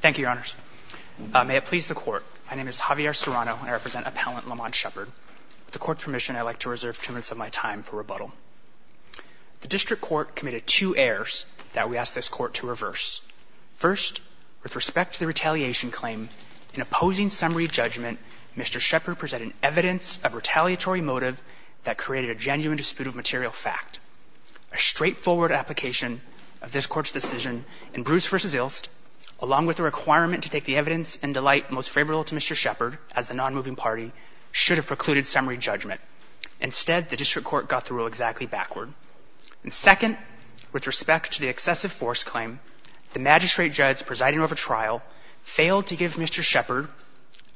Thank you, Your Honors. May it please the Court, my name is Javier Serrano and I represent Appellant Lamont Shepard. With the Court's permission, I'd like to reserve two minutes of my time for rebuttal. The District Court committed two errors that we ask this Court to reverse. First, with respect to the retaliation claim, in opposing summary judgment, Mr. Shepard presented evidence of retaliatory motive that created a genuine dispute of material fact. A straightforward application of this Court's decision in Bruce v. Ilst, along with a requirement to take the evidence in delight most favorable to Mr. Shepard as the nonmoving party, should have precluded summary judgment. Instead, the District Court got the rule exactly backward. And second, with respect to the excessive force claim, the magistrate judge presiding over trial failed to give Mr. Shepard,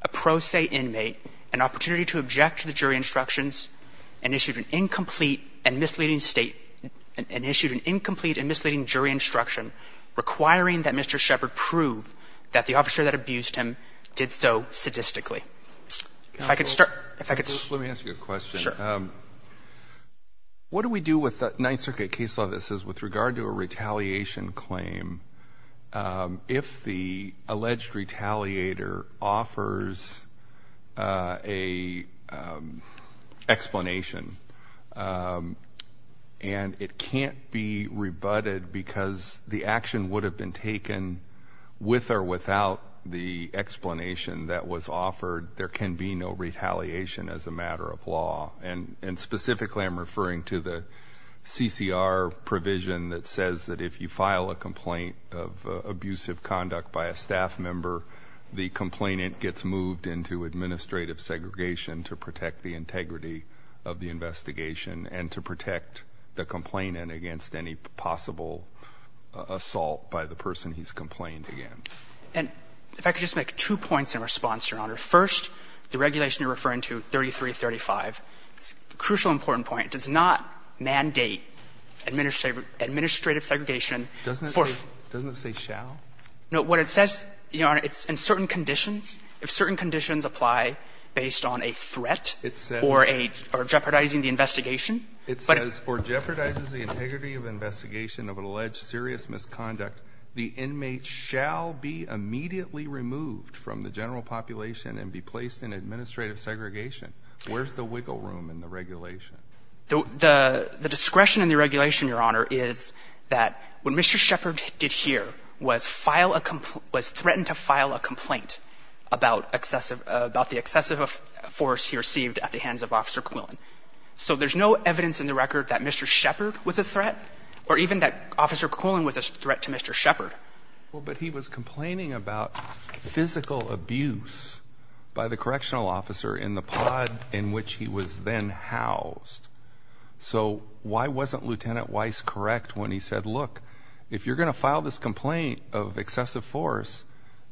a pro se inmate, an opportunity to object to the state, and issued an incomplete and misleading jury instruction, requiring that Mr. Shepard prove that the officer that abused him did so sadistically. If I could start, if I could start. Let me ask you a question. Sure. What do we do with the Ninth Circuit case law that says with regard to a retaliation claim, if the alleged retaliator offers a explanation, and it can't be rebutted because the action would have been taken with or without the explanation that was offered, there can be no retaliation as a matter of law. And specifically, I'm referring to the CCR provision that says that if you file a complaint of abusive conduct by a staff member, the complainant gets moved into administrative segregation to protect the integrity of the investigation and to protect the complainant against any possible assault by the person he's complained against. And if I could just make two points in response, Your Honor. First, the regulation you're referring to, 3335, it's a crucial important point, does not mandate administrative segregation. Doesn't it say, doesn't it say, shall? No. What it says, Your Honor, it's in certain conditions. If certain conditions apply based on a threat or a, or jeopardizing the investigation. It says, or jeopardizes the integrity of investigation of an alleged serious misconduct, the inmate shall be immediately removed from the general population and be placed in administrative segregation. Where's the wiggle room in the regulation? The, the discretion in the regulation, Your Honor, is that what Mr. Shepard did here was file a complaint, was threaten to file a complaint about excessive, about the excessive force he received at the hands of Officer Quillen. So there's no evidence in the record that Mr. Shepard was a threat or even that Officer Quillen was a threat to Mr. Shepard. Well, but he was complaining about physical abuse by the correctional officer in the pod in which he was then housed. So why wasn't Lieutenant Weiss correct when he said, look, if you're going to file this complaint of excessive force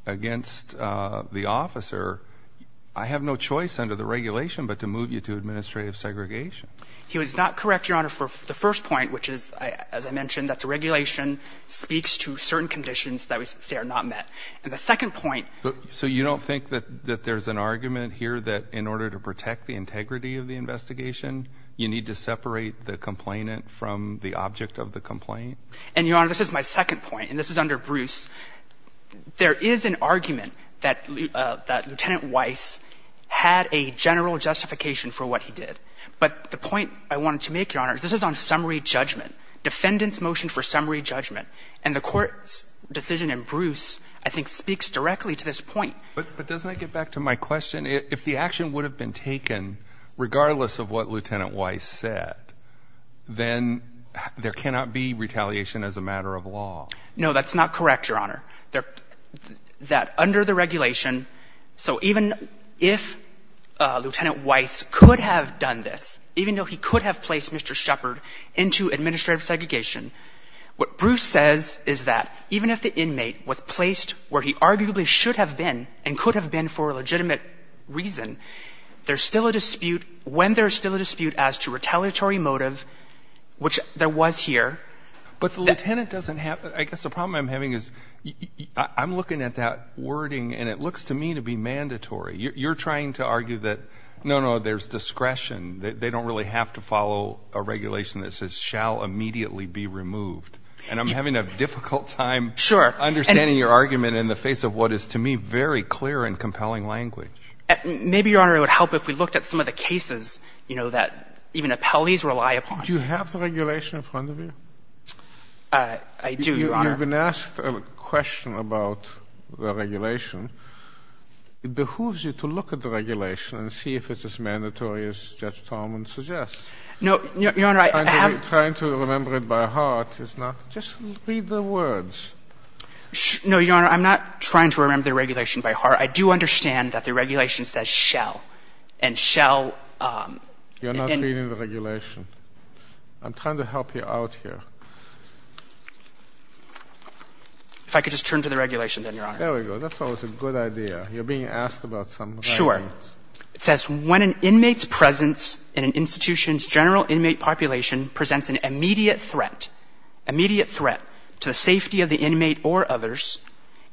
against the officer, I have no choice under the regulation, but to move you to administrative segregation. He was not correct, Your Honor, for the first point, which is, as I mentioned, that certain conditions that we say are not met. And the second point. So you don't think that, that there's an argument here that in order to protect the integrity of the investigation, you need to separate the complainant from the object of the complaint? And, Your Honor, this is my second point, and this was under Bruce. There is an argument that Lieutenant Weiss had a general justification for what he did. But the point I wanted to make, Your Honor, is this is on summary judgment. Defendants for summary judgment. And the court's decision in Bruce, I think, speaks directly to this point. But doesn't that get back to my question? If the action would have been taken regardless of what Lieutenant Weiss said, then there cannot be retaliation as a matter of law. No, that's not correct, Your Honor. That under the regulation, so even if Lieutenant Weiss could have done this, even though he could have placed Mr. Shepard into administrative segregation, what Bruce says is that even if the inmate was placed where he arguably should have been and could have been for a legitimate reason, there's still a dispute, when there's still a dispute as to retaliatory motive, which there was here. But the lieutenant doesn't have, I guess the problem I'm having is I'm looking at that wording, and it looks to me to be mandatory. You're trying to argue that, no, no, there's discretion. They don't really have to follow a regulation that says, shall immediately be removed. And I'm having a difficult time understanding your argument in the face of what is, to me, very clear and compelling language. Maybe, Your Honor, it would help if we looked at some of the cases, you know, that even appellees rely upon. Do you have the regulation in front of you? I do, Your Honor. You've been asked a question about the regulation. It behooves you to look at the regulation and see if it's as mandatory as Judge Tolman suggests. No, Your Honor, I have — I'm trying to remember it by heart. It's not — just read the words. No, Your Honor, I'm not trying to remember the regulation by heart. I do understand that the regulation says shall, and shall — You're not reading the regulation. I'm trying to help you out here. If I could just turn to the regulation, then, Your Honor. There we go. That's always a good idea. You're being asked about some regulations. Sure. It says, when an inmate's presence in an institution's general inmate population presents an immediate threat — immediate threat to the safety of the inmate or others,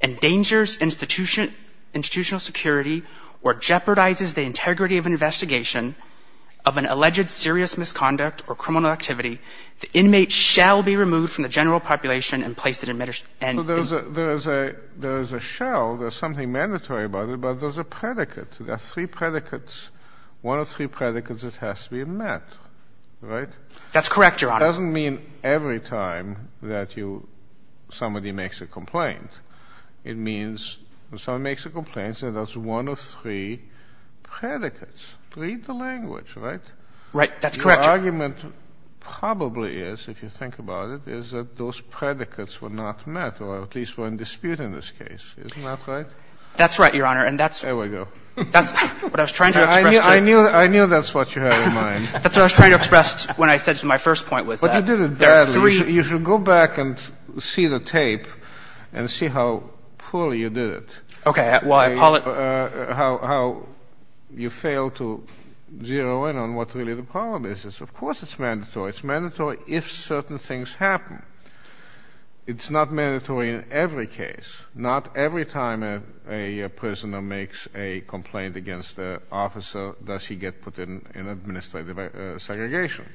endangers institutional security, or jeopardizes the integrity of an investigation of an alleged serious misconduct or criminal activity, the inmate shall be removed from the general population and placed in — So there's a — there is a — there is a shall. There's something mandatory about it. But there's a predicate. There are three predicates. One of three predicates, it has to be met. Right? That's correct, Your Honor. It doesn't mean every time that you — somebody makes a complaint. It means when somebody makes a complaint, there's one of three predicates. Read the language, right? Right. That's correct, Your Honor. The argument probably is, if you think about it, is that those predicates were not met, or at least were in dispute in this case. Isn't that right? That's right, Your Honor. And that's — There we go. That's what I was trying to express to — I knew — I knew that's what you had in mind. That's what I was trying to express when I said to my first point was that — But you did it badly. You should go back and see the tape and see how poorly you did it. Okay. Well, I — How you failed to zero in on what really the problem is. Of course it's mandatory. It's mandatory if certain things happen. It's not mandatory in every case, not every time a prisoner makes a complaint against an officer, does he get put in administrative segregation.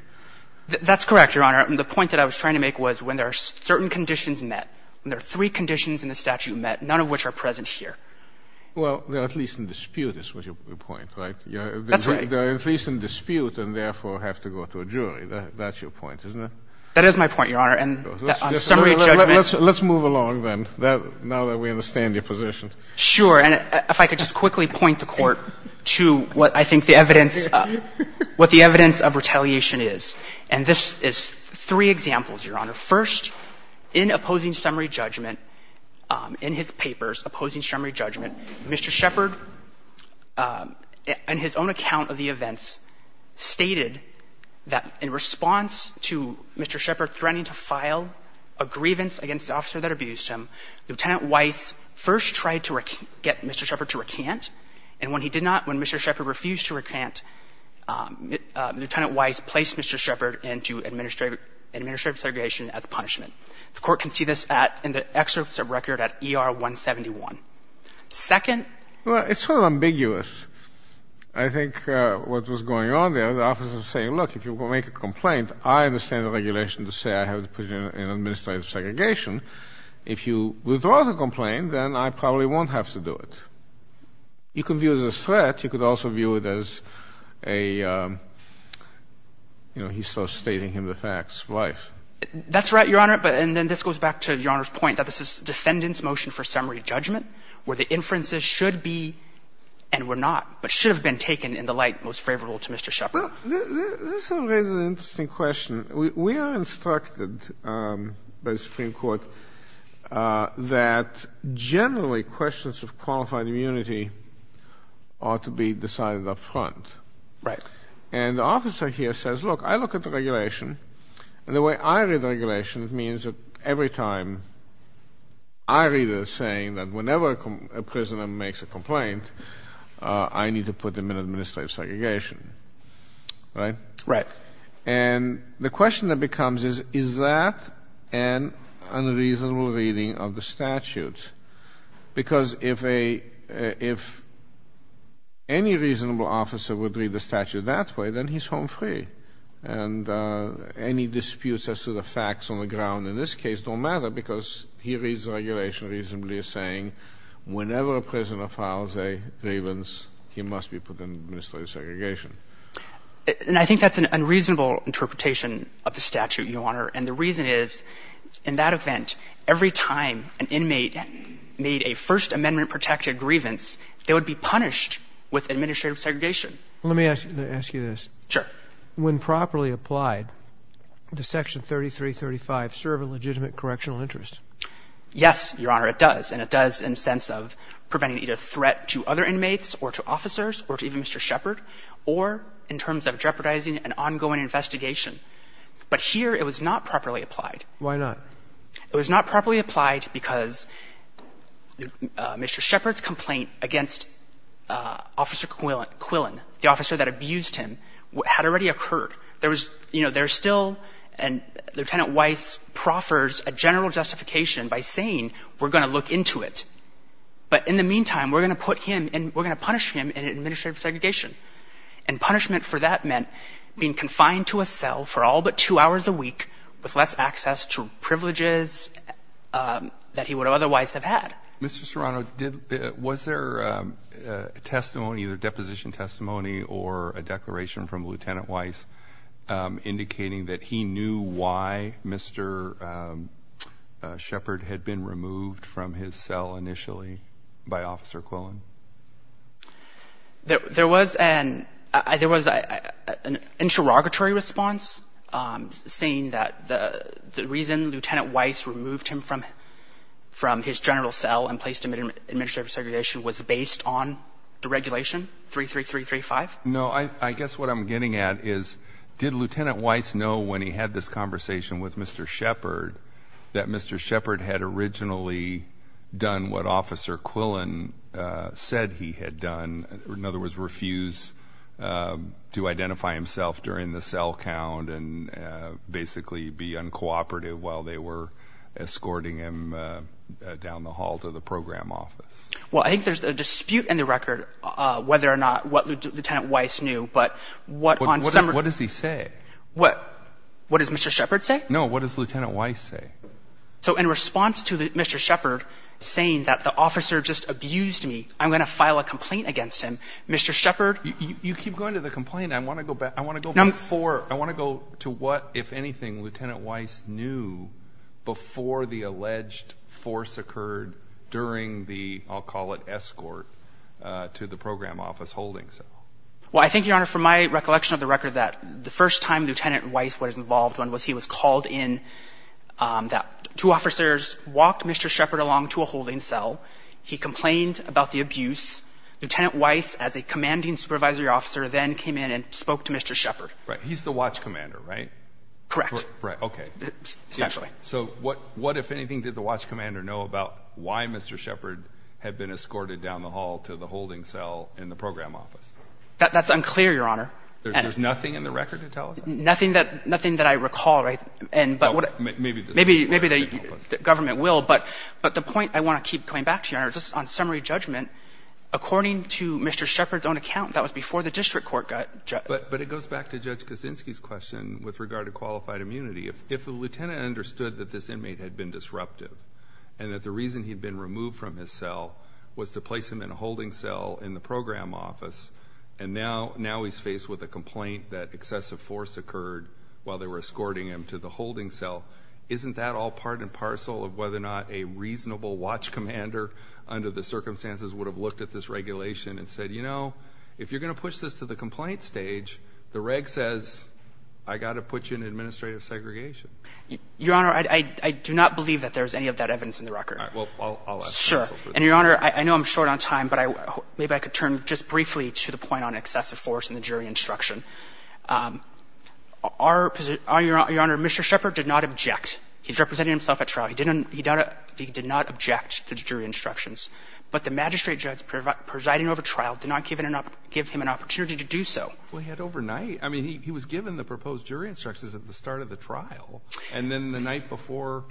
That's correct, Your Honor. The point that I was trying to make was when there are certain conditions met, when there are three conditions in the statute met, none of which are present here. Well, they're at least in dispute, is your point, right? That's right. They're at least in dispute and therefore have to go to a jury. That's your point, isn't it? That is my point, Your Honor. And on summary of judgment — Let's move along then, now that we understand your position. Sure. And if I could just quickly point the Court to what I think the evidence — what the evidence of retaliation is. And this is three examples, Your Honor. First, in opposing summary judgment, in his papers, opposing summary judgment, Mr. Shepard, in his own account of the events, stated that in response to Mr. Shepard threatening to file a grievance against the officer that abused him, Lieutenant Weiss first tried to get Mr. Shepard to recant. And when he did not — when Mr. Shepard refused to recant, Lieutenant Weiss placed Mr. Shepard into administrative segregation as punishment. The Court can see this at — in the excerpts of record at ER 171. Second — Well, it's sort of ambiguous. I think what was going on there, the officer was saying, look, if you make a complaint, I understand the regulation to say I have to put you in administrative segregation. If you withdraw the complaint, then I probably won't have to do it. You could view it as a threat. You could also view it as a — you know, he's still stating him the facts. Why? That's right, Your Honor. And then this goes back to Your Honor's point that this is defendant's motion for summary judgment, where the inferences should be and were not, but should have been taken in the light most favorable to Mr. Shepard. This sort of raises an interesting question. We are instructed by the Supreme Court that generally questions of qualified immunity ought to be decided up front. Right. And the officer here says, look, I look at the regulation, and the way I read the regulation, it means that every time I read it as saying that whenever a prisoner makes a complaint, I need to put them in administrative segregation. Right? Right. And the question that becomes is, is that an unreasonable reading of the statute? Because if any reasonable officer would read the statute that way, then he's home free. And any disputes as to the facts on the ground in this case don't matter because he reads the regulation reasonably as saying whenever a prisoner files a grievance, he must be put in administrative segregation. And I think that's an unreasonable interpretation of the statute, Your Honor. And the reason is, in that event, every time an inmate made a First Amendment-protected grievance, they would be punished with administrative segregation. Let me ask you this. Sure. When properly applied, does Section 3335 serve a legitimate correctional interest? Yes, Your Honor, it does. And it does in the sense of preventing either threat to other inmates or to officers or to even Mr. Shepard or in terms of jeopardizing an ongoing investigation. But here it was not properly applied. Why not? It was not properly applied because Mr. Shepard's complaint against Officer Quillen, the officer that abused him, had already occurred. There was, you know, there's still and Lieutenant Weiss proffers a general justification by saying we're going to look into it. But in the meantime, we're going to put him and we're going to punish him in administrative segregation. And punishment for that meant being confined to a cell for all but two hours a week with less access to privileges that he would otherwise have had. Mr. Serrano, was there testimony, either deposition testimony or a declaration from Lieutenant Weiss indicating that he knew why Mr. Shepard had been removed from his cell initially by Officer Quillen? There was an interrogatory response saying that the reason Lieutenant Weiss removed him from his general cell and placed him in administrative segregation was based on deregulation 33335. No, I guess what I'm getting at is did Lieutenant Weiss know when he had this conversation with Mr. Shepard that Mr. Shepard had originally done what Officer Quillen said he had done, in other words, refuse to identify himself during the cell count and basically be uncooperative while they were down the hall to the program office? Well, I think there's a dispute in the record whether or not what Lieutenant Weiss knew. But what does he say? What does Mr. Shepard say? No, what does Lieutenant Weiss say? So in response to Mr. Shepard saying that the officer just abused me, I'm going to file a complaint against him. Mr. Shepard. You keep going to the complaint. I want to go back. I want to go before. I want to go to what, if anything, Lieutenant Weiss knew before the alleged force occurred during the, I'll call it, escort to the program office holding cell. Well, I think, Your Honor, from my recollection of the record that the first time Lieutenant Weiss was involved when he was called in that two officers walked Mr. Shepard along to a holding cell. He complained about the abuse. Lieutenant Weiss, as a commanding supervisory officer, then came in and spoke to Mr. Shepard. Right. He's the watch commander, right? Correct. Right. Okay. Essentially. So what, if anything, did the watch commander know about why Mr. Shepard had been escorted down the hall to the holding cell in the program office? That's unclear, Your Honor. There's nothing in the record to tell us? Nothing that I recall, right? And but what — Maybe the State Department. Maybe the government will. But the point I want to keep coming back to, Your Honor, just on summary judgment, according to Mr. Shepard's own account, that was before the district court got — But it goes back to Judge Kaczynski's question with regard to qualified immunity. If the lieutenant understood that this inmate had been disruptive and that the reason he'd been removed from his cell was to place him in a holding cell in the program office, and now he's faced with a complaint that excessive force occurred while they were escorting him to the holding cell, isn't that all part and parcel of whether or not a reasonable watch commander, under the circumstances, would have looked at this regulation and said, you know, if you're going to push this to the complaint stage, the reg says, I've got to put you in administrative segregation. Your Honor, I do not believe that there's any of that evidence in the record. All right. Well, I'll ask counsel for this. Sure. And, Your Honor, I know I'm short on time, but I — maybe I could turn just briefly to the point on excessive force in the jury instruction. Our — Your Honor, Mr. Shepard did not object. He's representing himself at trial. He didn't — he did not object to the jury instructions. But the magistrate judge presiding over trial did not give him an opportunity to do so. Well, he had overnight — I mean, he was given the proposed jury instructions at the start of the trial, and then the night before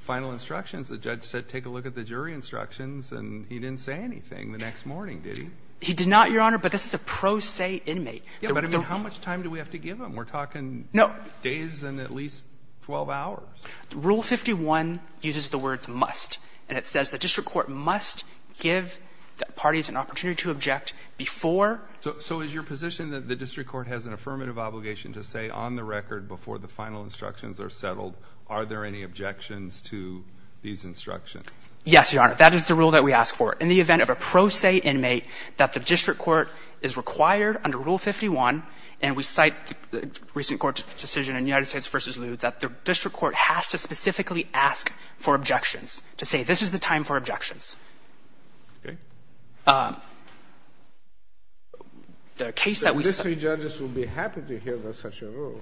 final instructions, the judge said, take a look at the jury instructions, and he didn't say anything the next morning, did he? He did not, Your Honor, but this is a pro se inmate. Yeah, but I mean, how much time do we have to give him? We're talking days and at least 12 hours. Rule 51 uses the words must, and it says the district court must give the parties an opportunity to object before — So is your position that the district court has an affirmative obligation to say on the record before the final instructions are settled, are there any objections to these instructions? Yes, Your Honor. That is the rule that we ask for. In the event of a pro se inmate, that the district court is required under Rule 51, and we cite the recent court's decision in United States v. Lew, that the district court has to specifically ask for objections, to say this is the time for objections. Okay. The case that we — But these three judges would be happy to hear such a rule.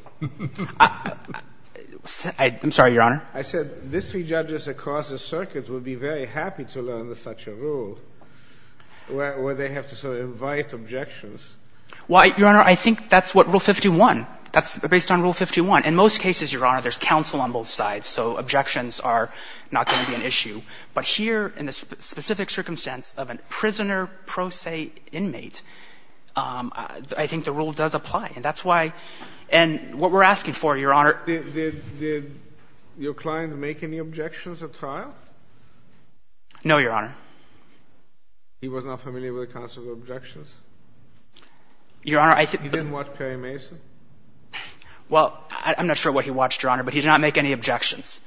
I'm sorry, Your Honor. I said these three judges across the circuit would be very happy to learn such a rule where they have to sort of invite objections. Well, Your Honor, I think that's what Rule 51 — that's based on Rule 51. In most cases, Your Honor, there's counsel on both sides, so objections are not going to be an issue. But here, in the specific circumstance of a prisoner pro se inmate, I think the rule does apply. And that's why — and what we're asking for, Your Honor — Did your client make any objections at trial? No, Your Honor. He was not familiar with the counsel's objections? Your Honor, I think — He didn't watch Perry Mason? Well, I'm not sure what he watched, Your Honor, but he did not make any objections.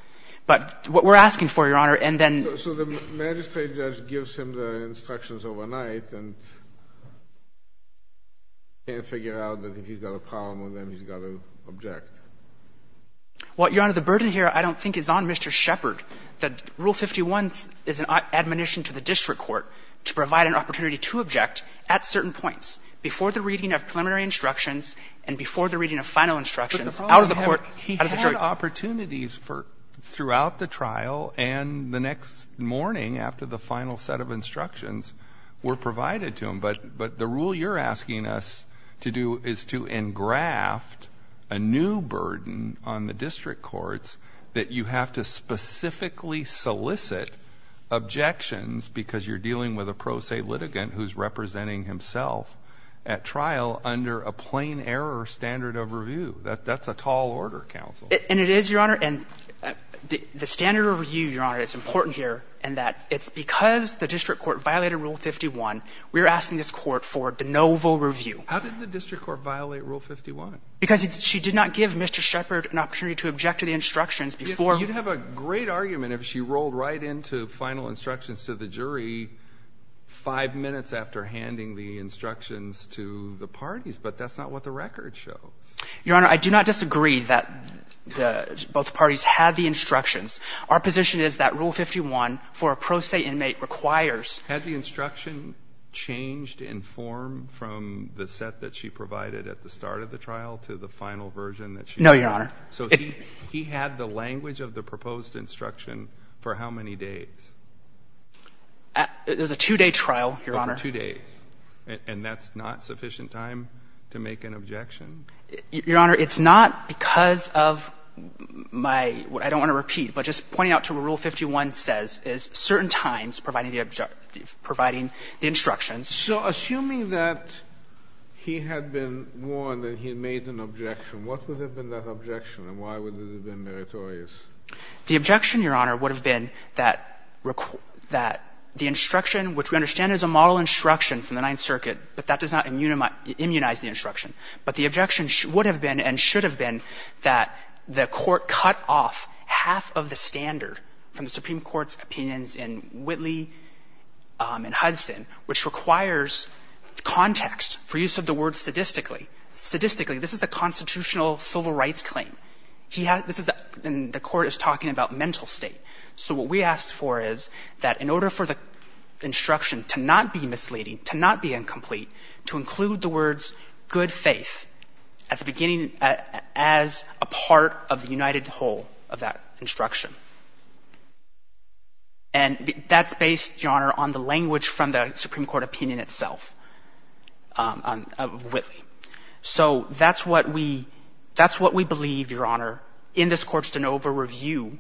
But what we're asking for, Your Honor, and then — So the magistrate judge gives him the instructions overnight and can't figure out that if he's got a problem with them, he's got to object. Well, Your Honor, the burden here I don't think is on Mr. Shepard. Rule 51 is an admonition to the district court to provide an opportunity to object at certain points, before the reading of preliminary instructions and before the reading of final instructions, out of the court — But the problem is he had opportunities throughout the trial and the next morning after the final set of instructions were provided to him. But the rule you're asking us to do is to engraft a new burden on the district courts that you have to specifically solicit objections because you're dealing with a pro se litigant who's representing himself at trial under a plain error standard of review. That's a tall order, counsel. And it is, Your Honor. And the standard of review, Your Honor, is important here in that it's because the district court violated Rule 51, we're asking this court for de novo review. How did the district court violate Rule 51? Because she did not give Mr. Shepard an opportunity to object to the instructions before — You'd have a great argument if she rolled right into final instructions to the jury five minutes after handing the instructions to the parties, but that's not what the record shows. Your Honor, I do not disagree that both parties had the instructions. Our position is that Rule 51 for a pro se inmate requires — Had the instruction changed in form from the set that she provided at the start of the trial to the final version that she provided? No, Your Honor. So he had the language of the proposed instruction for how many days? There's a two-day trial, Your Honor. For two days. And that's not sufficient time to make an objection? Your Honor, it's not because of my — I don't want to repeat, but just pointing out to what Rule 51 says is certain times providing the — providing the instructions. So assuming that he had been warned and he made an objection, what would have been that objection, and why would it have been meritorious? The objection, Your Honor, would have been that the instruction, which we understand is a model instruction from the Ninth Circuit, but that does not immunize the instruction. But the objection would have been and should have been that the Court cut off half of the standard from the Supreme Court's opinions in Whitley and Hudson, which requires context for use of the word sadistically. Sadistically, this is a constitutional civil rights claim. He had — this is — and the Court is talking about mental state. So what we asked for is that in order for the instruction to not be misleading, to not be incomplete, to include the words good faith at the beginning as a part of the united whole of that instruction. And that's based, Your Honor, on the language from the Supreme Court opinion itself of Whitley. So that's what we — that's what we believe, Your Honor, in this Court's de novo review,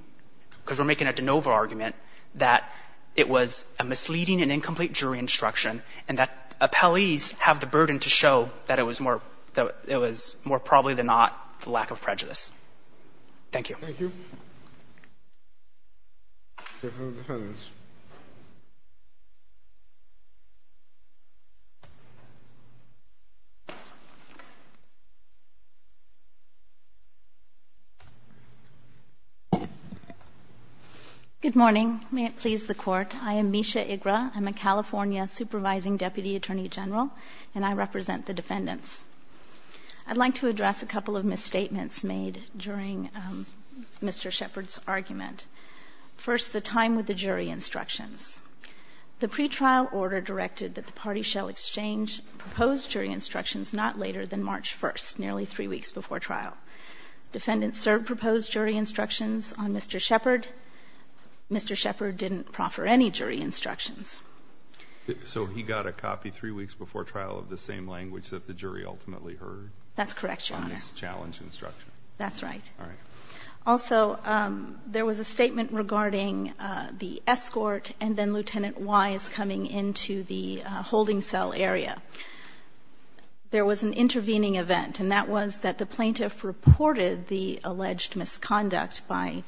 because we're making a de novo argument, that it was a misleading and incomplete jury instruction and that appellees have the burden to show that it was more — that it was more probably than not the lack of prejudice. Thank you. Thank you. Good morning. May it please the Court. I am Misha Igra. I'm a California supervising deputy attorney general, and I represent the defendants. I'd like to address a couple of misstatements made during Mr. Shepard's argument. First, the time with the jury instructions. The pretrial order directed that the party shall exchange proposed jury instructions not later than March 1st, nearly three weeks before trial. Defendants served proposed jury instructions on Mr. Shepard. Mr. Shepard didn't proffer any jury instructions. So he got a copy three weeks before trial of the same language that the jury ultimately heard? That's correct, Your Honor. On this challenge instruction? That's right. All right. Also, there was a statement regarding the escort and then Lieutenant Wise coming into the holding cell area. There was an intervening event, and that was that the plaintiff reported the alleged misconduct by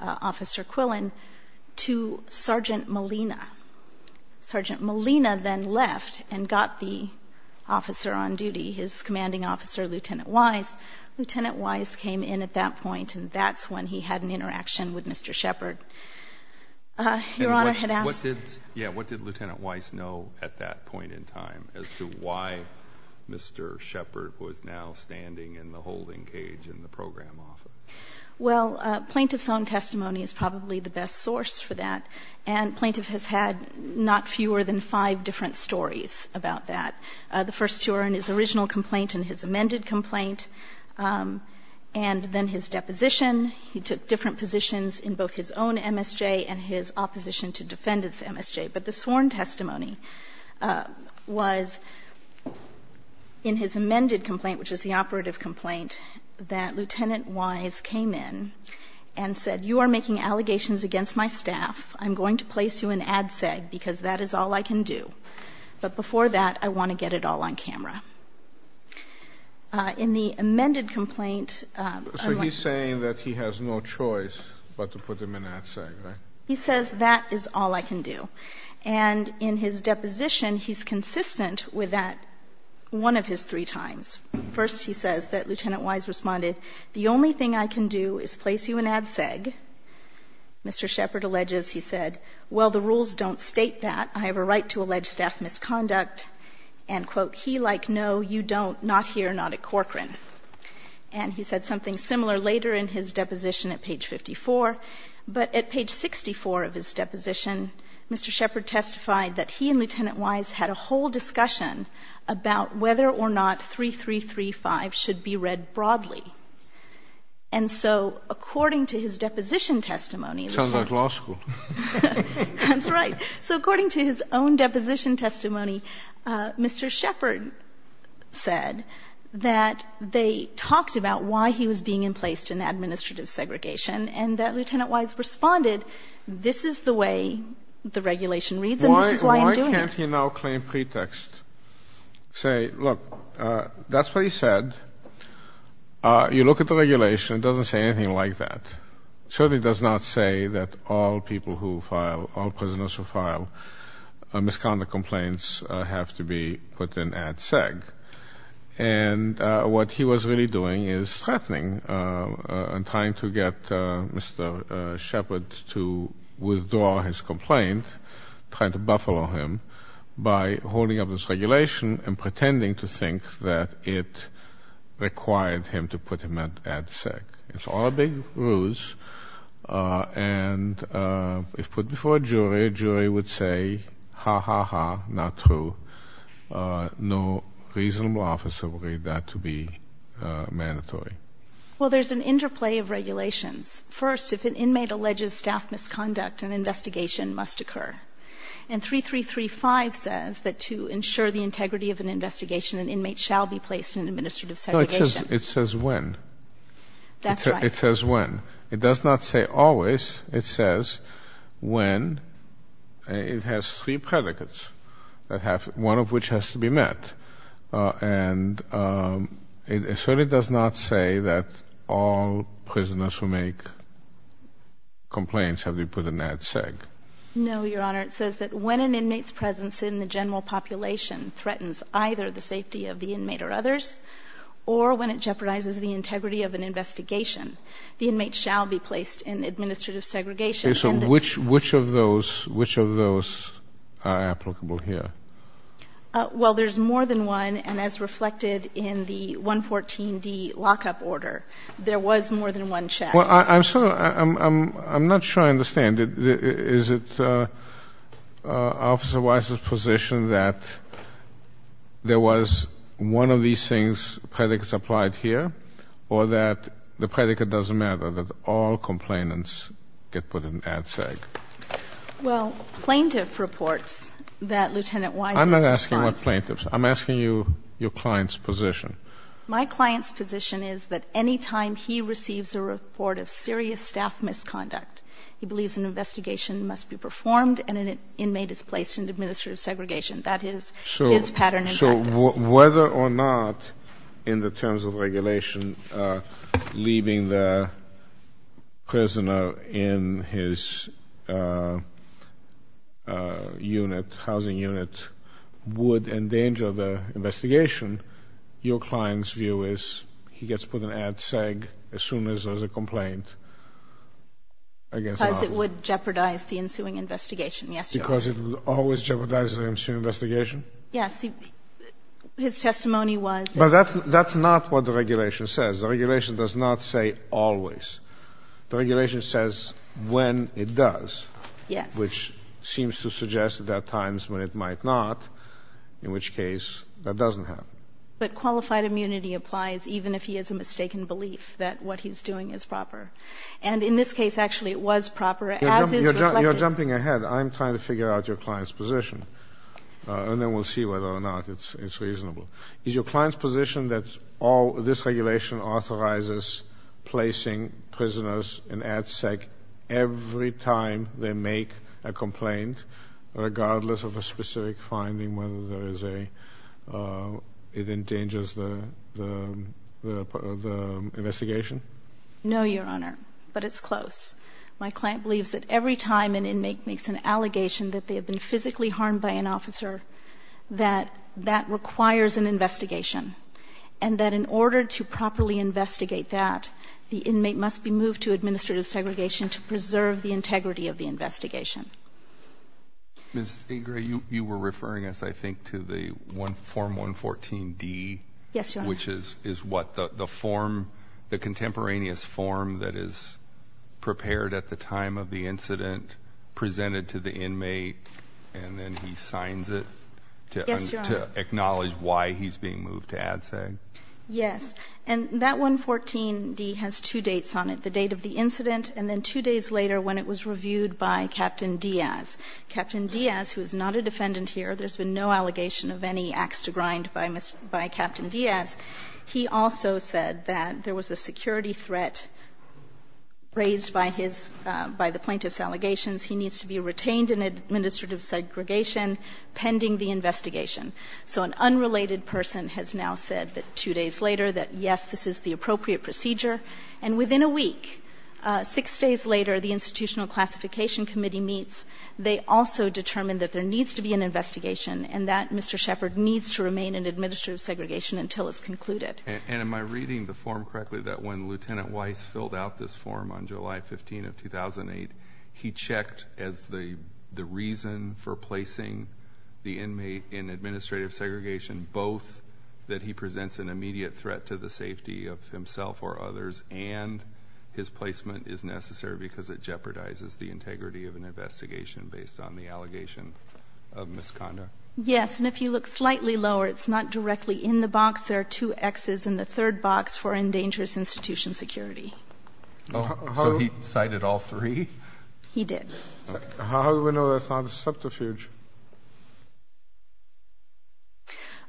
Officer Quillen to Sergeant Molina. Sergeant Molina then left and got the officer on duty, his commanding officer, Lieutenant Wise. Lieutenant Wise came in at that point, and that's when he had an interaction with Mr. Shepard. Your Honor, I had asked— Yeah, what did Lieutenant Wise know at that point in time as to why Mr. Shepard was now standing in the holding cage in the program office? Well, plaintiff's own testimony is probably the best source for that. And plaintiff has had not fewer than five different stories about that. The first two are in his original complaint and his amended complaint. And then his deposition. He took different positions in both his own MSJ and his opposition to defendant's MSJ. But the sworn testimony was in his amended complaint, which is the operative complaint that Lieutenant Wise came in and said, you are making allegations against my staff. I'm going to place you in ADSEG because that is all I can do. But before that, I want to get it all on camera. In the amended complaint— So he's saying that he has no choice but to put him in ADSEG, right? He says that is all I can do. And in his deposition, he's consistent with that one of his three times. First, he says that Lieutenant Wise responded, the only thing I can do is place you in ADSEG. Mr. Shepard alleges, he said, well, the rules don't state that. I have a right to allege staff misconduct. And, quote, he liked, no, you don't, not here, not at Corcoran. And he said something similar later in his deposition at page 54. But at page 64 of his deposition, Mr. Shepard testified that he and Lieutenant should be read broadly. And so according to his deposition testimony— Sounds like law school. That's right. So according to his own deposition testimony, Mr. Shepard said that they talked about why he was being emplaced in administrative segregation and that Lieutenant Wise responded, this is the way the regulation reads and this is why I'm doing it. Can't he now claim pretext? Say, look, that's what he said. You look at the regulation, it doesn't say anything like that. Certainly does not say that all people who file, all prisoners who file misconduct complaints have to be put in ADSEG. And what he was really doing is threatening and trying to get Mr. Shepard to by holding up this regulation and pretending to think that it required him to put him at ADSEG. It's all a big ruse. And if put before a jury, a jury would say, ha, ha, ha, not true. No reasonable officer would read that to be mandatory. Well, there's an interplay of regulations. First, if an inmate alleges staff misconduct, an investigation must occur. And 3335 says that to ensure the integrity of an investigation, an inmate shall be placed in administrative segregation. It says when. It says when. It does not say always. It says when. It has three predicates that have, one of which has to be met. And it certainly does not say that all prisoners who make complaints have to be put in ADSEG. No, Your Honor. It says that when an inmate's presence in the general population threatens either the safety of the inmate or others, or when it jeopardizes the integrity of an investigation, the inmate shall be placed in administrative segregation. So which, which of those, which of those are applicable here? Well, there's more than one. And as reflected in the 114D lockup order, there was more than one check. Well, I'm sort of, I'm, I'm, I'm not sure I understand it. Is it Officer Wise's position that there was one of these things, predicates applied here, or that the predicate doesn't matter, that all complainants get put in ADSEG? Well, plaintiff reports that Lieutenant Wise's response. I'm not asking what plaintiffs. I'm asking you, your client's position. My client's position is that any time he receives a report of serious staff misconduct, he believes an investigation must be performed, and an inmate is placed in administrative segregation. That is his pattern and practice. So, so whether or not, in the terms of regulation, leaving the prisoner in his unit, housing unit, would endanger the investigation, your client's view is he gets put in ADSEG as soon as there's a complaint. Because it would jeopardize the ensuing investigation. Yes. Because it would always jeopardize the ensuing investigation? Yes. His testimony was. But that's, that's not what the regulation says. The regulation does not say always. The regulation says when it does. Yes. Which seems to suggest that there are times when it might not, in which case that doesn't happen. But qualified immunity applies even if he has a mistaken belief that what he's doing is proper. And in this case, actually, it was proper, as is reflected. You're jumping ahead. I'm trying to figure out your client's position. And then we'll see whether or not it's reasonable. Is your client's position that all this regulation authorizes placing prisoners in ADSEG every time they make a complaint, regardless of a specific finding, whether there is a it endangers the investigation? No, Your Honor. But it's close. My client believes that every time an inmate makes an allegation that they have been physically harmed by an officer, that that requires an investigation. And that in order to properly investigate that, the inmate must be moved to administrative segregation to preserve the integrity of the investigation. Ms. Ingra, you were referring us, I think, to the Form 114-D. Yes, Your Honor. Which is what? The form, the contemporaneous form that is prepared at the time of the incident, presented to the inmate, and then he signs it to acknowledge why he's being moved to ADSEG. Yes. And that 114-D has two dates on it, the date of the incident and then two days later when it was reviewed by Captain Diaz. Captain Diaz, who is not a defendant here, there has been no allegation of any axe to grind by Captain Diaz, he also said that there was a security threat raised by his, by the plaintiff's allegations. He needs to be retained in administrative segregation pending the investigation. So an unrelated person has now said that two days later that, yes, this is the appropriate procedure. And within a week, six days later, the Institutional Classification Committee meets. They also determine that there needs to be an investigation and that Mr. Shepard needs to remain in administrative segregation until it's concluded. And am I reading the form correctly that when Lieutenant Weiss filled out this form on July 15 of 2008, he checked as the reason for placing the inmate in administrative segregation, both that he presents an immediate threat to the safety of himself or others and his placement is necessary because it jeopardizes the integrity of an investigation based on the allegation of misconduct? Yes. And if you look slightly lower, it's not directly in the box. There are two Xs in the third box for endangerous institution security. So he cited all three? He did. How do we know that's not a subterfuge?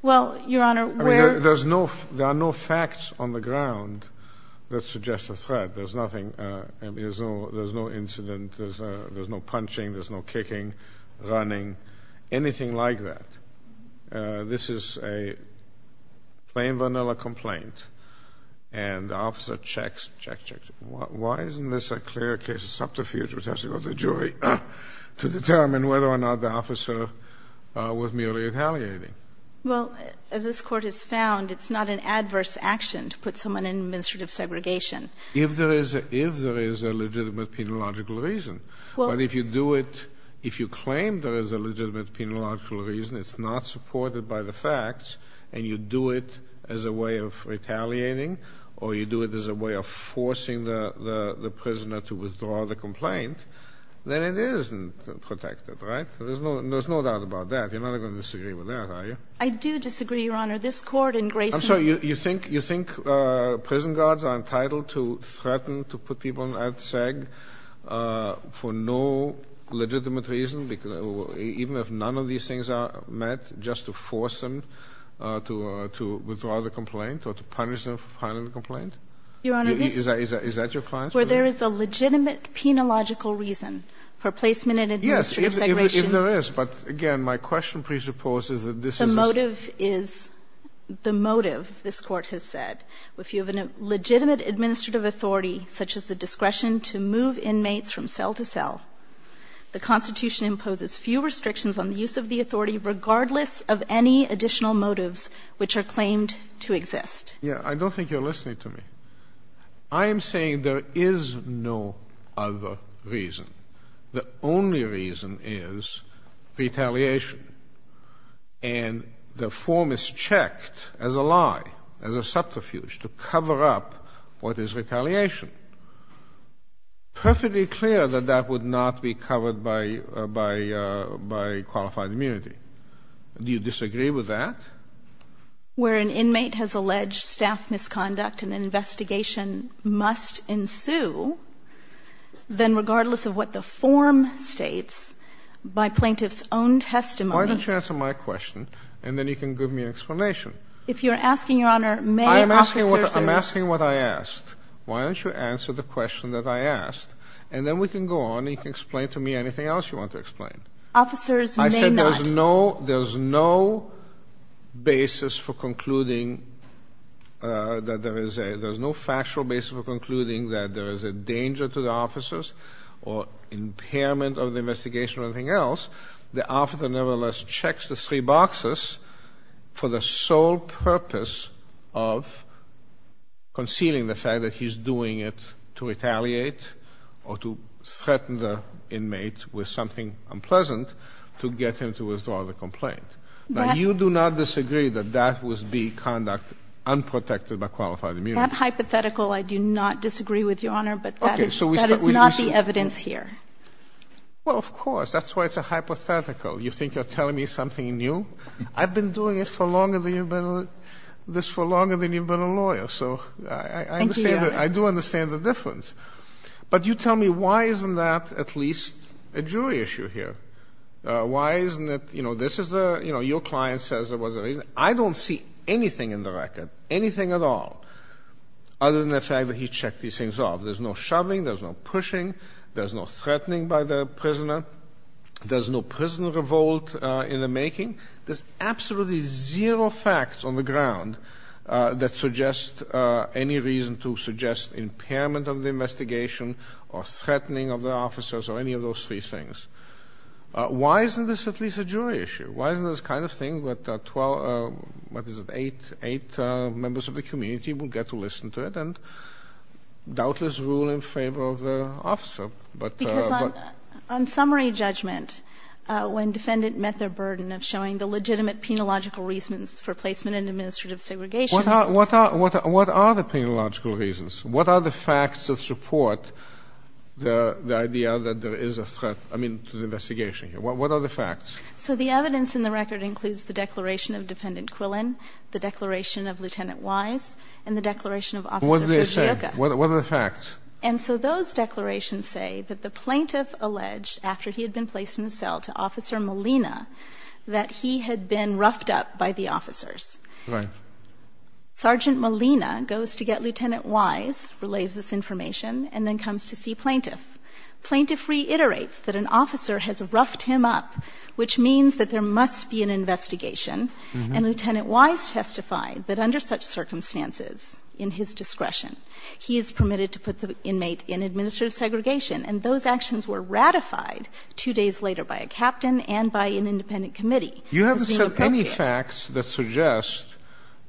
Well, Your Honor, there are no facts on the ground that suggest a threat. There's nothing. There's no incident. There's no punching. There's no kicking, running, anything like that. This is a plain vanilla complaint. And the officer checks, checks, checks. Why isn't this a clear case of subterfuge which has to go to the jury to determine whether or not the officer was merely retaliating? Well, as this Court has found, it's not an adverse action to put someone in administrative segregation. If there is a legitimate penological reason. But if you do it, if you claim there is a legitimate penological reason, it's not supported by the facts and you do it as a way of retaliating or you do it as a way of forcing the prisoner to withdraw the complaint, then it isn't protected, right? There's no doubt about that. You're not going to disagree with that, are you? I do disagree, Your Honor. This Court in Grayson. I'm sorry. You think prison guards are entitled to threaten to put people at SAG for no legitimate reason, even if none of these things are met, just to force them to withdraw the complaint or to punish them for filing the complaint? Your Honor, this. Is that your point? Where there is a legitimate penological reason for placement in administrative segregation. If there is, but again, my question presupposes that this is. The motive is, the motive, this Court has said, if you have a legitimate administrative authority, such as the discretion to move inmates from cell to cell, the Constitution imposes few restrictions on the use of the authority regardless of any additional motives which are claimed to exist. Yeah, I don't think you're listening to me. I am saying there is no other reason. The only reason is retaliation. And the form is checked as a lie, as a subterfuge, to cover up what is retaliation. Perfectly clear that that would not be covered by qualified immunity. Do you disagree with that? Where an inmate has alleged staff misconduct and an investigation must ensue, then regardless of what the form states, by plaintiff's own testimony. Why don't you answer my question, and then you can give me an explanation. If you're asking, Your Honor, may officers. I'm asking what I asked. Why don't you answer the question that I asked, and then we can go on and you can explain to me anything else you want to explain. Officers may not. I said there's no basis for concluding that there is a, there's no factual basis for or impairment of the investigation or anything else. The officer, nevertheless, checks the three boxes for the sole purpose of concealing the fact that he's doing it to retaliate or to threaten the inmate with something unpleasant to get him to withdraw the complaint. But you do not disagree that that was the conduct unprotected by qualified immunity. That hypothetical, I do not disagree with, Your Honor. But that is not the evidence here. Well, of course. That's why it's a hypothetical. You think you're telling me something new? I've been doing this for longer than you've been a lawyer. So I do understand the difference. But you tell me, why isn't that at least a jury issue here? Why isn't it, you know, this is a, you know, your client says there was a reason. I don't see anything in the record, anything at all, other than the fact that he checked these things off. There's no shoving. There's no pushing. There's no threatening by the prisoner. There's no prison revolt in the making. There's absolutely zero facts on the ground that suggest any reason to suggest impairment of the investigation or threatening of the officers or any of those three things. Why isn't this at least a jury issue? Why isn't this the kind of thing that 12, what is it, eight members of the community will get to listen to it? And doubtless rule in favor of the officer. But because on summary judgment, when defendant met their burden of showing the legitimate penological reasons for placement and administrative segregation, what are the penological reasons? What are the facts of support? The idea that there is a threat, I mean, to the investigation. What are the facts? So the evidence in the record includes the declaration of defendant Quillen, the declaration of Lieutenant Wise and the declaration of officer. What do they say? What are the facts? And so those declarations say that the plaintiff alleged after he had been placed in the cell to officer Molina, that he had been roughed up by the officers. Sergeant Molina goes to get Lieutenant Wise, relays this information and then comes to see plaintiff. Plaintiff reiterates that an officer has roughed him up, which means that there must be an investigation. And Lieutenant Wise testified that under such circumstances in his discretion, he is permitted to put the inmate in administrative segregation. And those actions were ratified two days later by a captain and by an independent committee. You haven't said any facts that suggest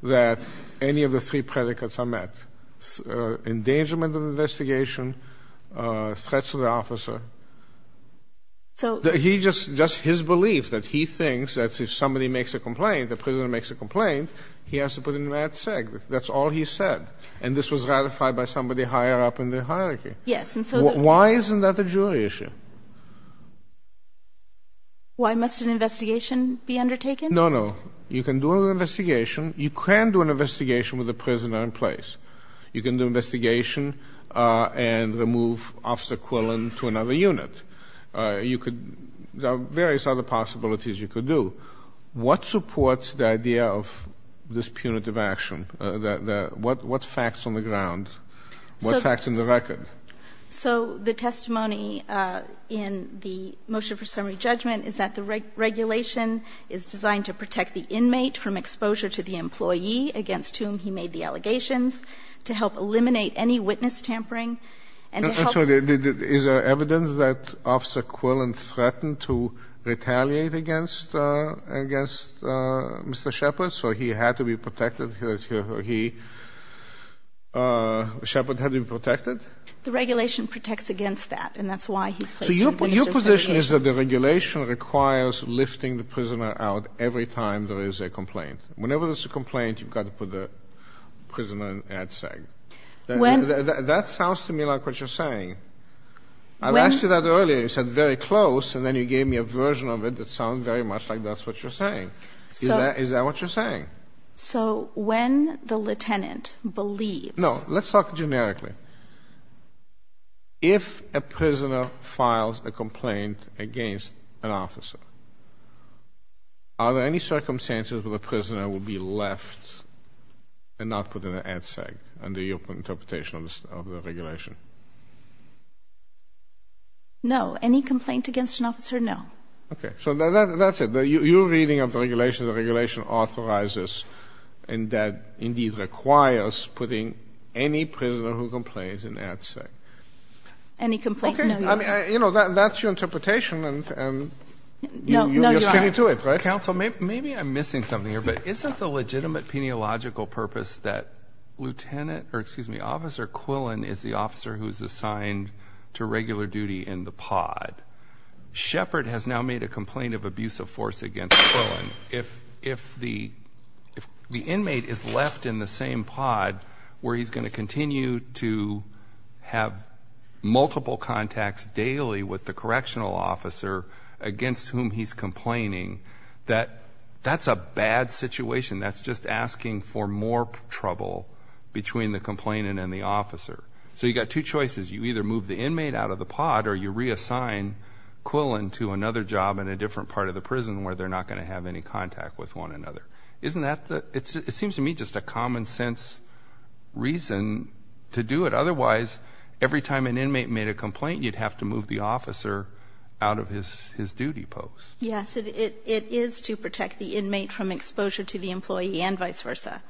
that any of the three predicates are met. Endangerment of investigation, threats to the officer. So he just does his belief that he thinks that if somebody makes a complaint, the prisoner makes a complaint, he has to put in that seg. That's all he said. And this was ratified by somebody higher up in the hierarchy. Yes. And so why isn't that a jury issue? Why must an investigation be undertaken? No, no. You can do an investigation. You can do an investigation with the prisoner in place. You can do an investigation and remove Officer Quillen to another unit. You could do various other possibilities you could do. What supports the idea of this punitive action? What facts on the ground? What facts in the record? So the testimony in the motion for summary judgment is that the regulation is designed to protect the inmate from exposure to the employee against whom he made the allegations. To help eliminate any witness tampering. Is there evidence that Officer Quillen threatened to retaliate against Mr. Shepard? So he had to be protected? Shepard had to be protected? The regulation protects against that. And that's why he's placed on punitive segregation. So your position is that the regulation requires lifting the prisoner out every time there is a complaint. Whenever there's a complaint, you've got to put the prisoner in ADSEG. That sounds to me like what you're saying. I've asked you that earlier. You said very close. And then you gave me a version of it that sounds very much like that's what you're saying. So is that what you're saying? So when the lieutenant believes... No, let's talk generically. If a prisoner files a complaint against an officer, are there any circumstances where the prisoner will be left and not put in ADSEG under your interpretation of the regulation? No. Any complaint against an officer? No. Okay. So that's it. You're reading of the regulation, the regulation authorizes and that indeed requires putting any prisoner who complains in ADSEG. Any complaint? Okay. You know, that's your interpretation and you're sticking to it, right? Counsel, maybe I'm missing something here, but isn't the legitimate peniological purpose that Lieutenant, or excuse me, Officer Quillen is the officer who's assigned to regular duty in the pod? Shepard has now made a complaint of abuse of force against Quillen. If the inmate is left in the same pod where he's going to continue to have multiple contacts daily with the correctional officer against whom he's complaining, that's a bad situation. That's just asking for more trouble between the complainant and the officer. So you've got two choices. You either move the inmate out of the pod or you reassign Quillen to another job in a different part of the prison where they're not going to have any contact with one another. Isn't that the, it seems to me just a common sense reason to do it. Otherwise, every time an inmate made a complaint, you'd have to move the officer out of his duty post. Yes, it is to protect the inmate from exposure to the employee and vice versa.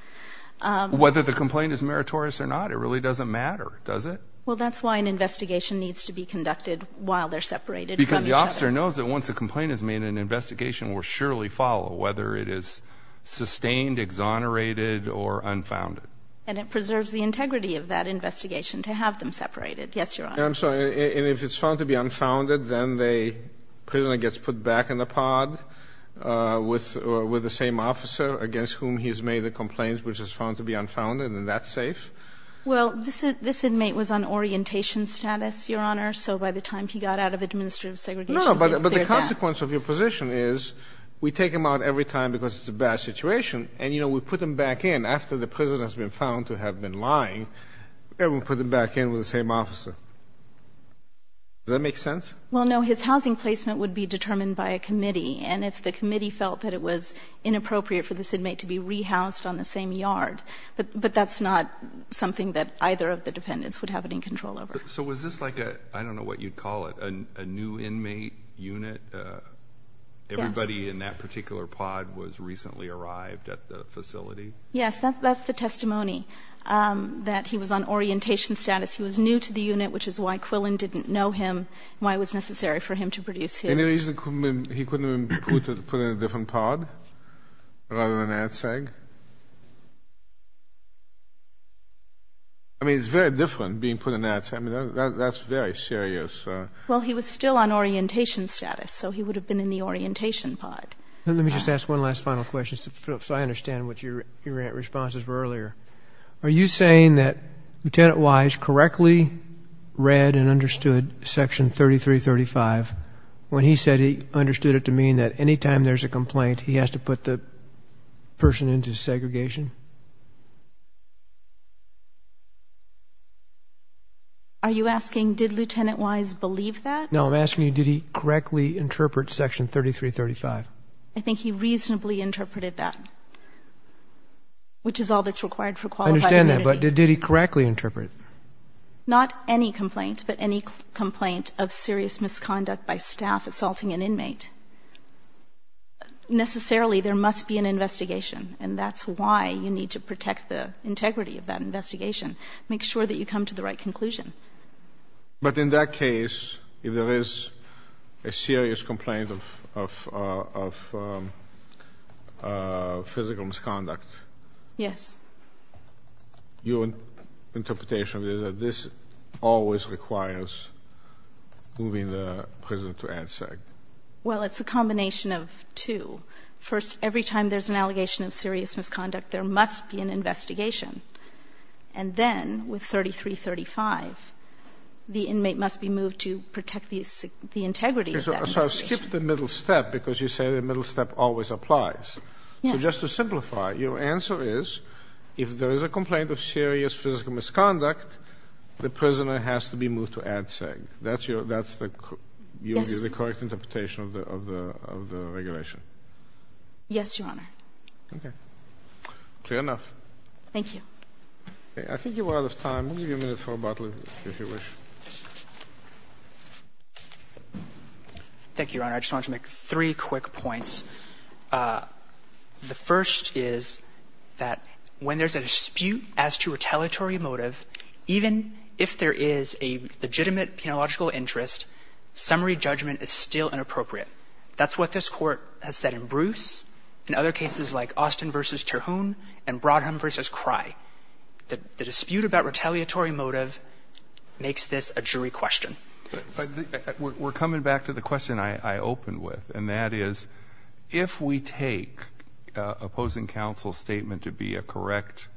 Whether the complaint is meritorious or not, it really doesn't matter, does it? Well, that's why an investigation needs to be conducted while they're separated. Because the officer knows that once a complaint is made, an investigation will surely follow whether it is sustained, exonerated, or unfounded. And it preserves the integrity of that investigation to have them separated. Yes, Your Honor. I'm sorry. And if it's found to be unfounded, then the prisoner gets put back in the pod with the same officer against whom he's made the complaints, which is found to be unfounded, and that's safe? Well, this inmate was on orientation status, Your Honor. So by the time he got out of administrative segregation, he cleared that. No, but the consequence of your position is we take him out every time because it's a bad situation. And, you know, we put him back in after the prisoner has been found to have been lying, and we put him back in with the same officer. Does that make sense? Well, no. His housing placement would be determined by a committee. And if the committee felt that it was inappropriate for this inmate to be rehoused on the same yard, but that's not something that either of the defendants would have it in control over. So was this like a, I don't know what you'd call it, a new inmate unit? Anybody in that particular pod was recently arrived at the facility? Yes. That's the testimony, that he was on orientation status. He was new to the unit, which is why Quillen didn't know him, why it was necessary for him to produce his. Any reason he couldn't have been put in a different pod rather than air tag? I mean, it's very different being put in air tag. I mean, that's very serious. Well, he was still on orientation status, so he would have been in the orientation pod. Let me just ask one last final question, so I understand what your responses were earlier. Are you saying that Lieutenant Wise correctly read and understood Section 3335 when he said he understood it to mean that anytime there's a complaint, he has to put the person into segregation? Are you asking, did Lieutenant Wise believe that? No, I'm asking you, did he correctly interpret Section 3335? I think he reasonably interpreted that, which is all that's required for qualified immunity. I understand that, but did he correctly interpret? Not any complaint, but any complaint of serious misconduct by staff assaulting an inmate. Necessarily, there must be an investigation, and that's why you need to protect the integrity of that investigation. Make sure that you come to the right conclusion. But in that case, if there is a serious complaint of physical misconduct? Yes. Your interpretation is that this always requires moving the prisoner to ANSAG? Well, it's a combination of two. First, every time there's an allegation of serious misconduct, there must be an investigation. And then, with 3335, the inmate must be moved to protect the integrity of that investigation. So I've skipped the middle step, because you say the middle step always applies. So just to simplify, your answer is, if there is a complaint of serious physical misconduct, the prisoner has to be moved to ANSAG. That's the correct interpretation of the regulation? Yes, Your Honor. Okay, clear enough. Thank you. I think you are out of time. We'll give you a minute for rebuttal, if you wish. Thank you, Your Honor. I just wanted to make three quick points. The first is that when there's a dispute as to retaliatory motive, even if there is a legitimate penological interest, summary judgment is still inappropriate. That's what this Court has said in Bruce, in other cases like Austin v. Terhune and Brodheim v. Crye. The dispute about retaliatory motive makes this a jury question. We're coming back to the question I opened with, and that is, if we take opposing counsel's statement to be a correct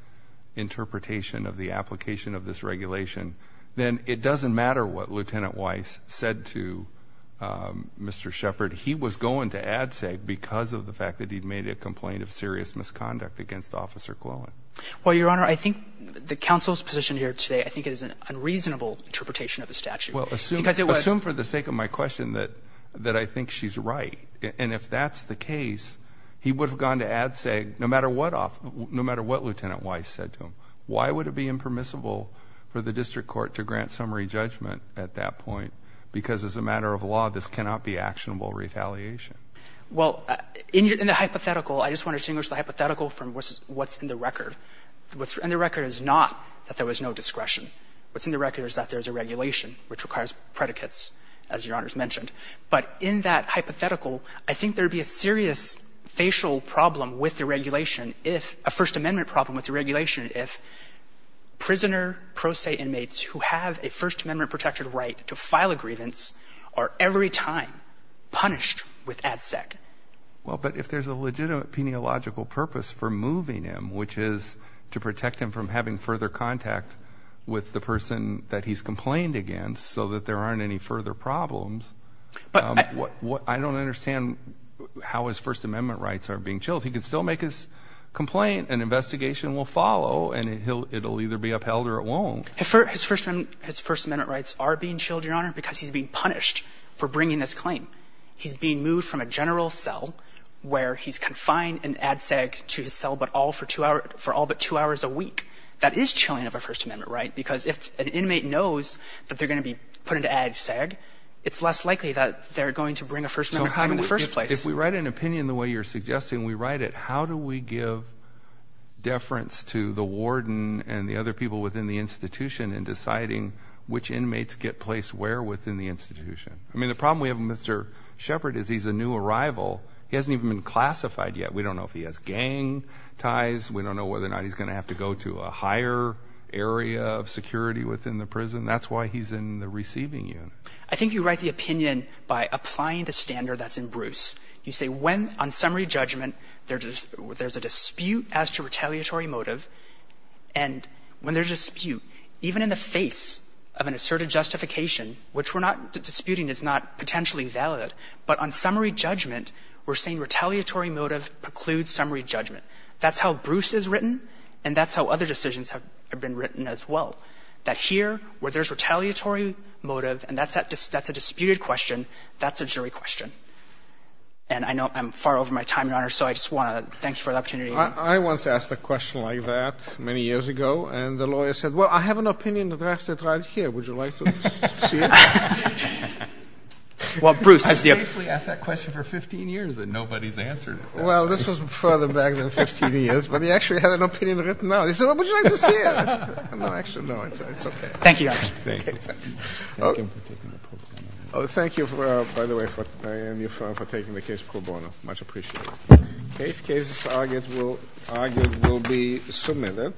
interpretation of the application of this regulation, then it doesn't matter what Lieutenant Weiss said to Mr. Shepard. He was going to ANSAG because of the fact that he'd made a complaint of serious misconduct against Officer Glowen. Well, Your Honor, I think the counsel's position here today, I think it is an unreasonable interpretation of the statute. Well, assume for the sake of my question that I think she's right. And if that's the case, he would have gone to ANSAG no matter what Lieutenant Weiss said to him. Why would it be impermissible for the District Court to grant summary judgment at that point? Because as a matter of law, this cannot be actionable retaliation. Well, in the hypothetical, I just want to distinguish the hypothetical from what's in the record. What's in the record is not that there was no discretion. What's in the record is that there's a regulation which requires predicates, as Your Honor's mentioned. But in that hypothetical, I think there would be a serious facial problem with the regulation if — a First Amendment problem with the regulation if prisoner, pro se inmates who have a First Amendment-protected right to file a grievance are every time punished with ADSEC. Well, but if there's a legitimate peniological purpose for moving him, which is to protect him from having further contact with the person that he's complained against so that there aren't any further problems, I don't understand how his First Amendment rights are being chilled. He could still make his complaint, an investigation will follow, and it'll either be upheld or it won't. His First Amendment rights are being chilled, Your Honor, because he's being punished for bringing this claim. He's being moved from a general cell where he's confined in ADSEC to his cell for all but two hours a week. That is chilling of a First Amendment right because if an inmate knows that they're going to be put into ADSEC, it's less likely that they're going to bring a First Amendment claim in the first place. If we write an opinion the way you're suggesting, we write it, how do we give deference to the warden and the other people within the institution in deciding which inmates get placed where within the institution? I mean, the problem we have with Mr. Shepard is he's a new arrival. He hasn't even been classified yet. We don't know if he has gang ties. We don't know whether or not he's going to have to go to a higher area of security within the prison. That's why he's in the receiving unit. I think you write the opinion by applying the standard that's in Bruce. You say when on summary judgment, there's a dispute as to retaliatory motive, and when there's a dispute, even in the face of an asserted justification, which we're not disputing is not potentially valid, but on summary judgment, we're saying retaliatory motive precludes summary judgment. That's how Bruce is written, and that's how other decisions have been written as well, that here where there's retaliatory motive, and that's a disputed question, that's a jury question. And I know I'm far over my time, Your Honor, so I just want to thank you for the opportunity. I once asked a question like that many years ago, and the lawyer said, well, I have an opinion drafted right here. Would you like to see it? Well, Bruce. I've safely asked that question for 15 years, and nobody's answered it. Well, this was further back than 15 years, but he actually had an opinion written out. He said, would you like to see it? No, actually, no, it's okay. Thank you, Your Honor. Thank you. Oh, thank you, by the way, for taking the case pro bono. Much appreciated. Case cases argued will be submitted.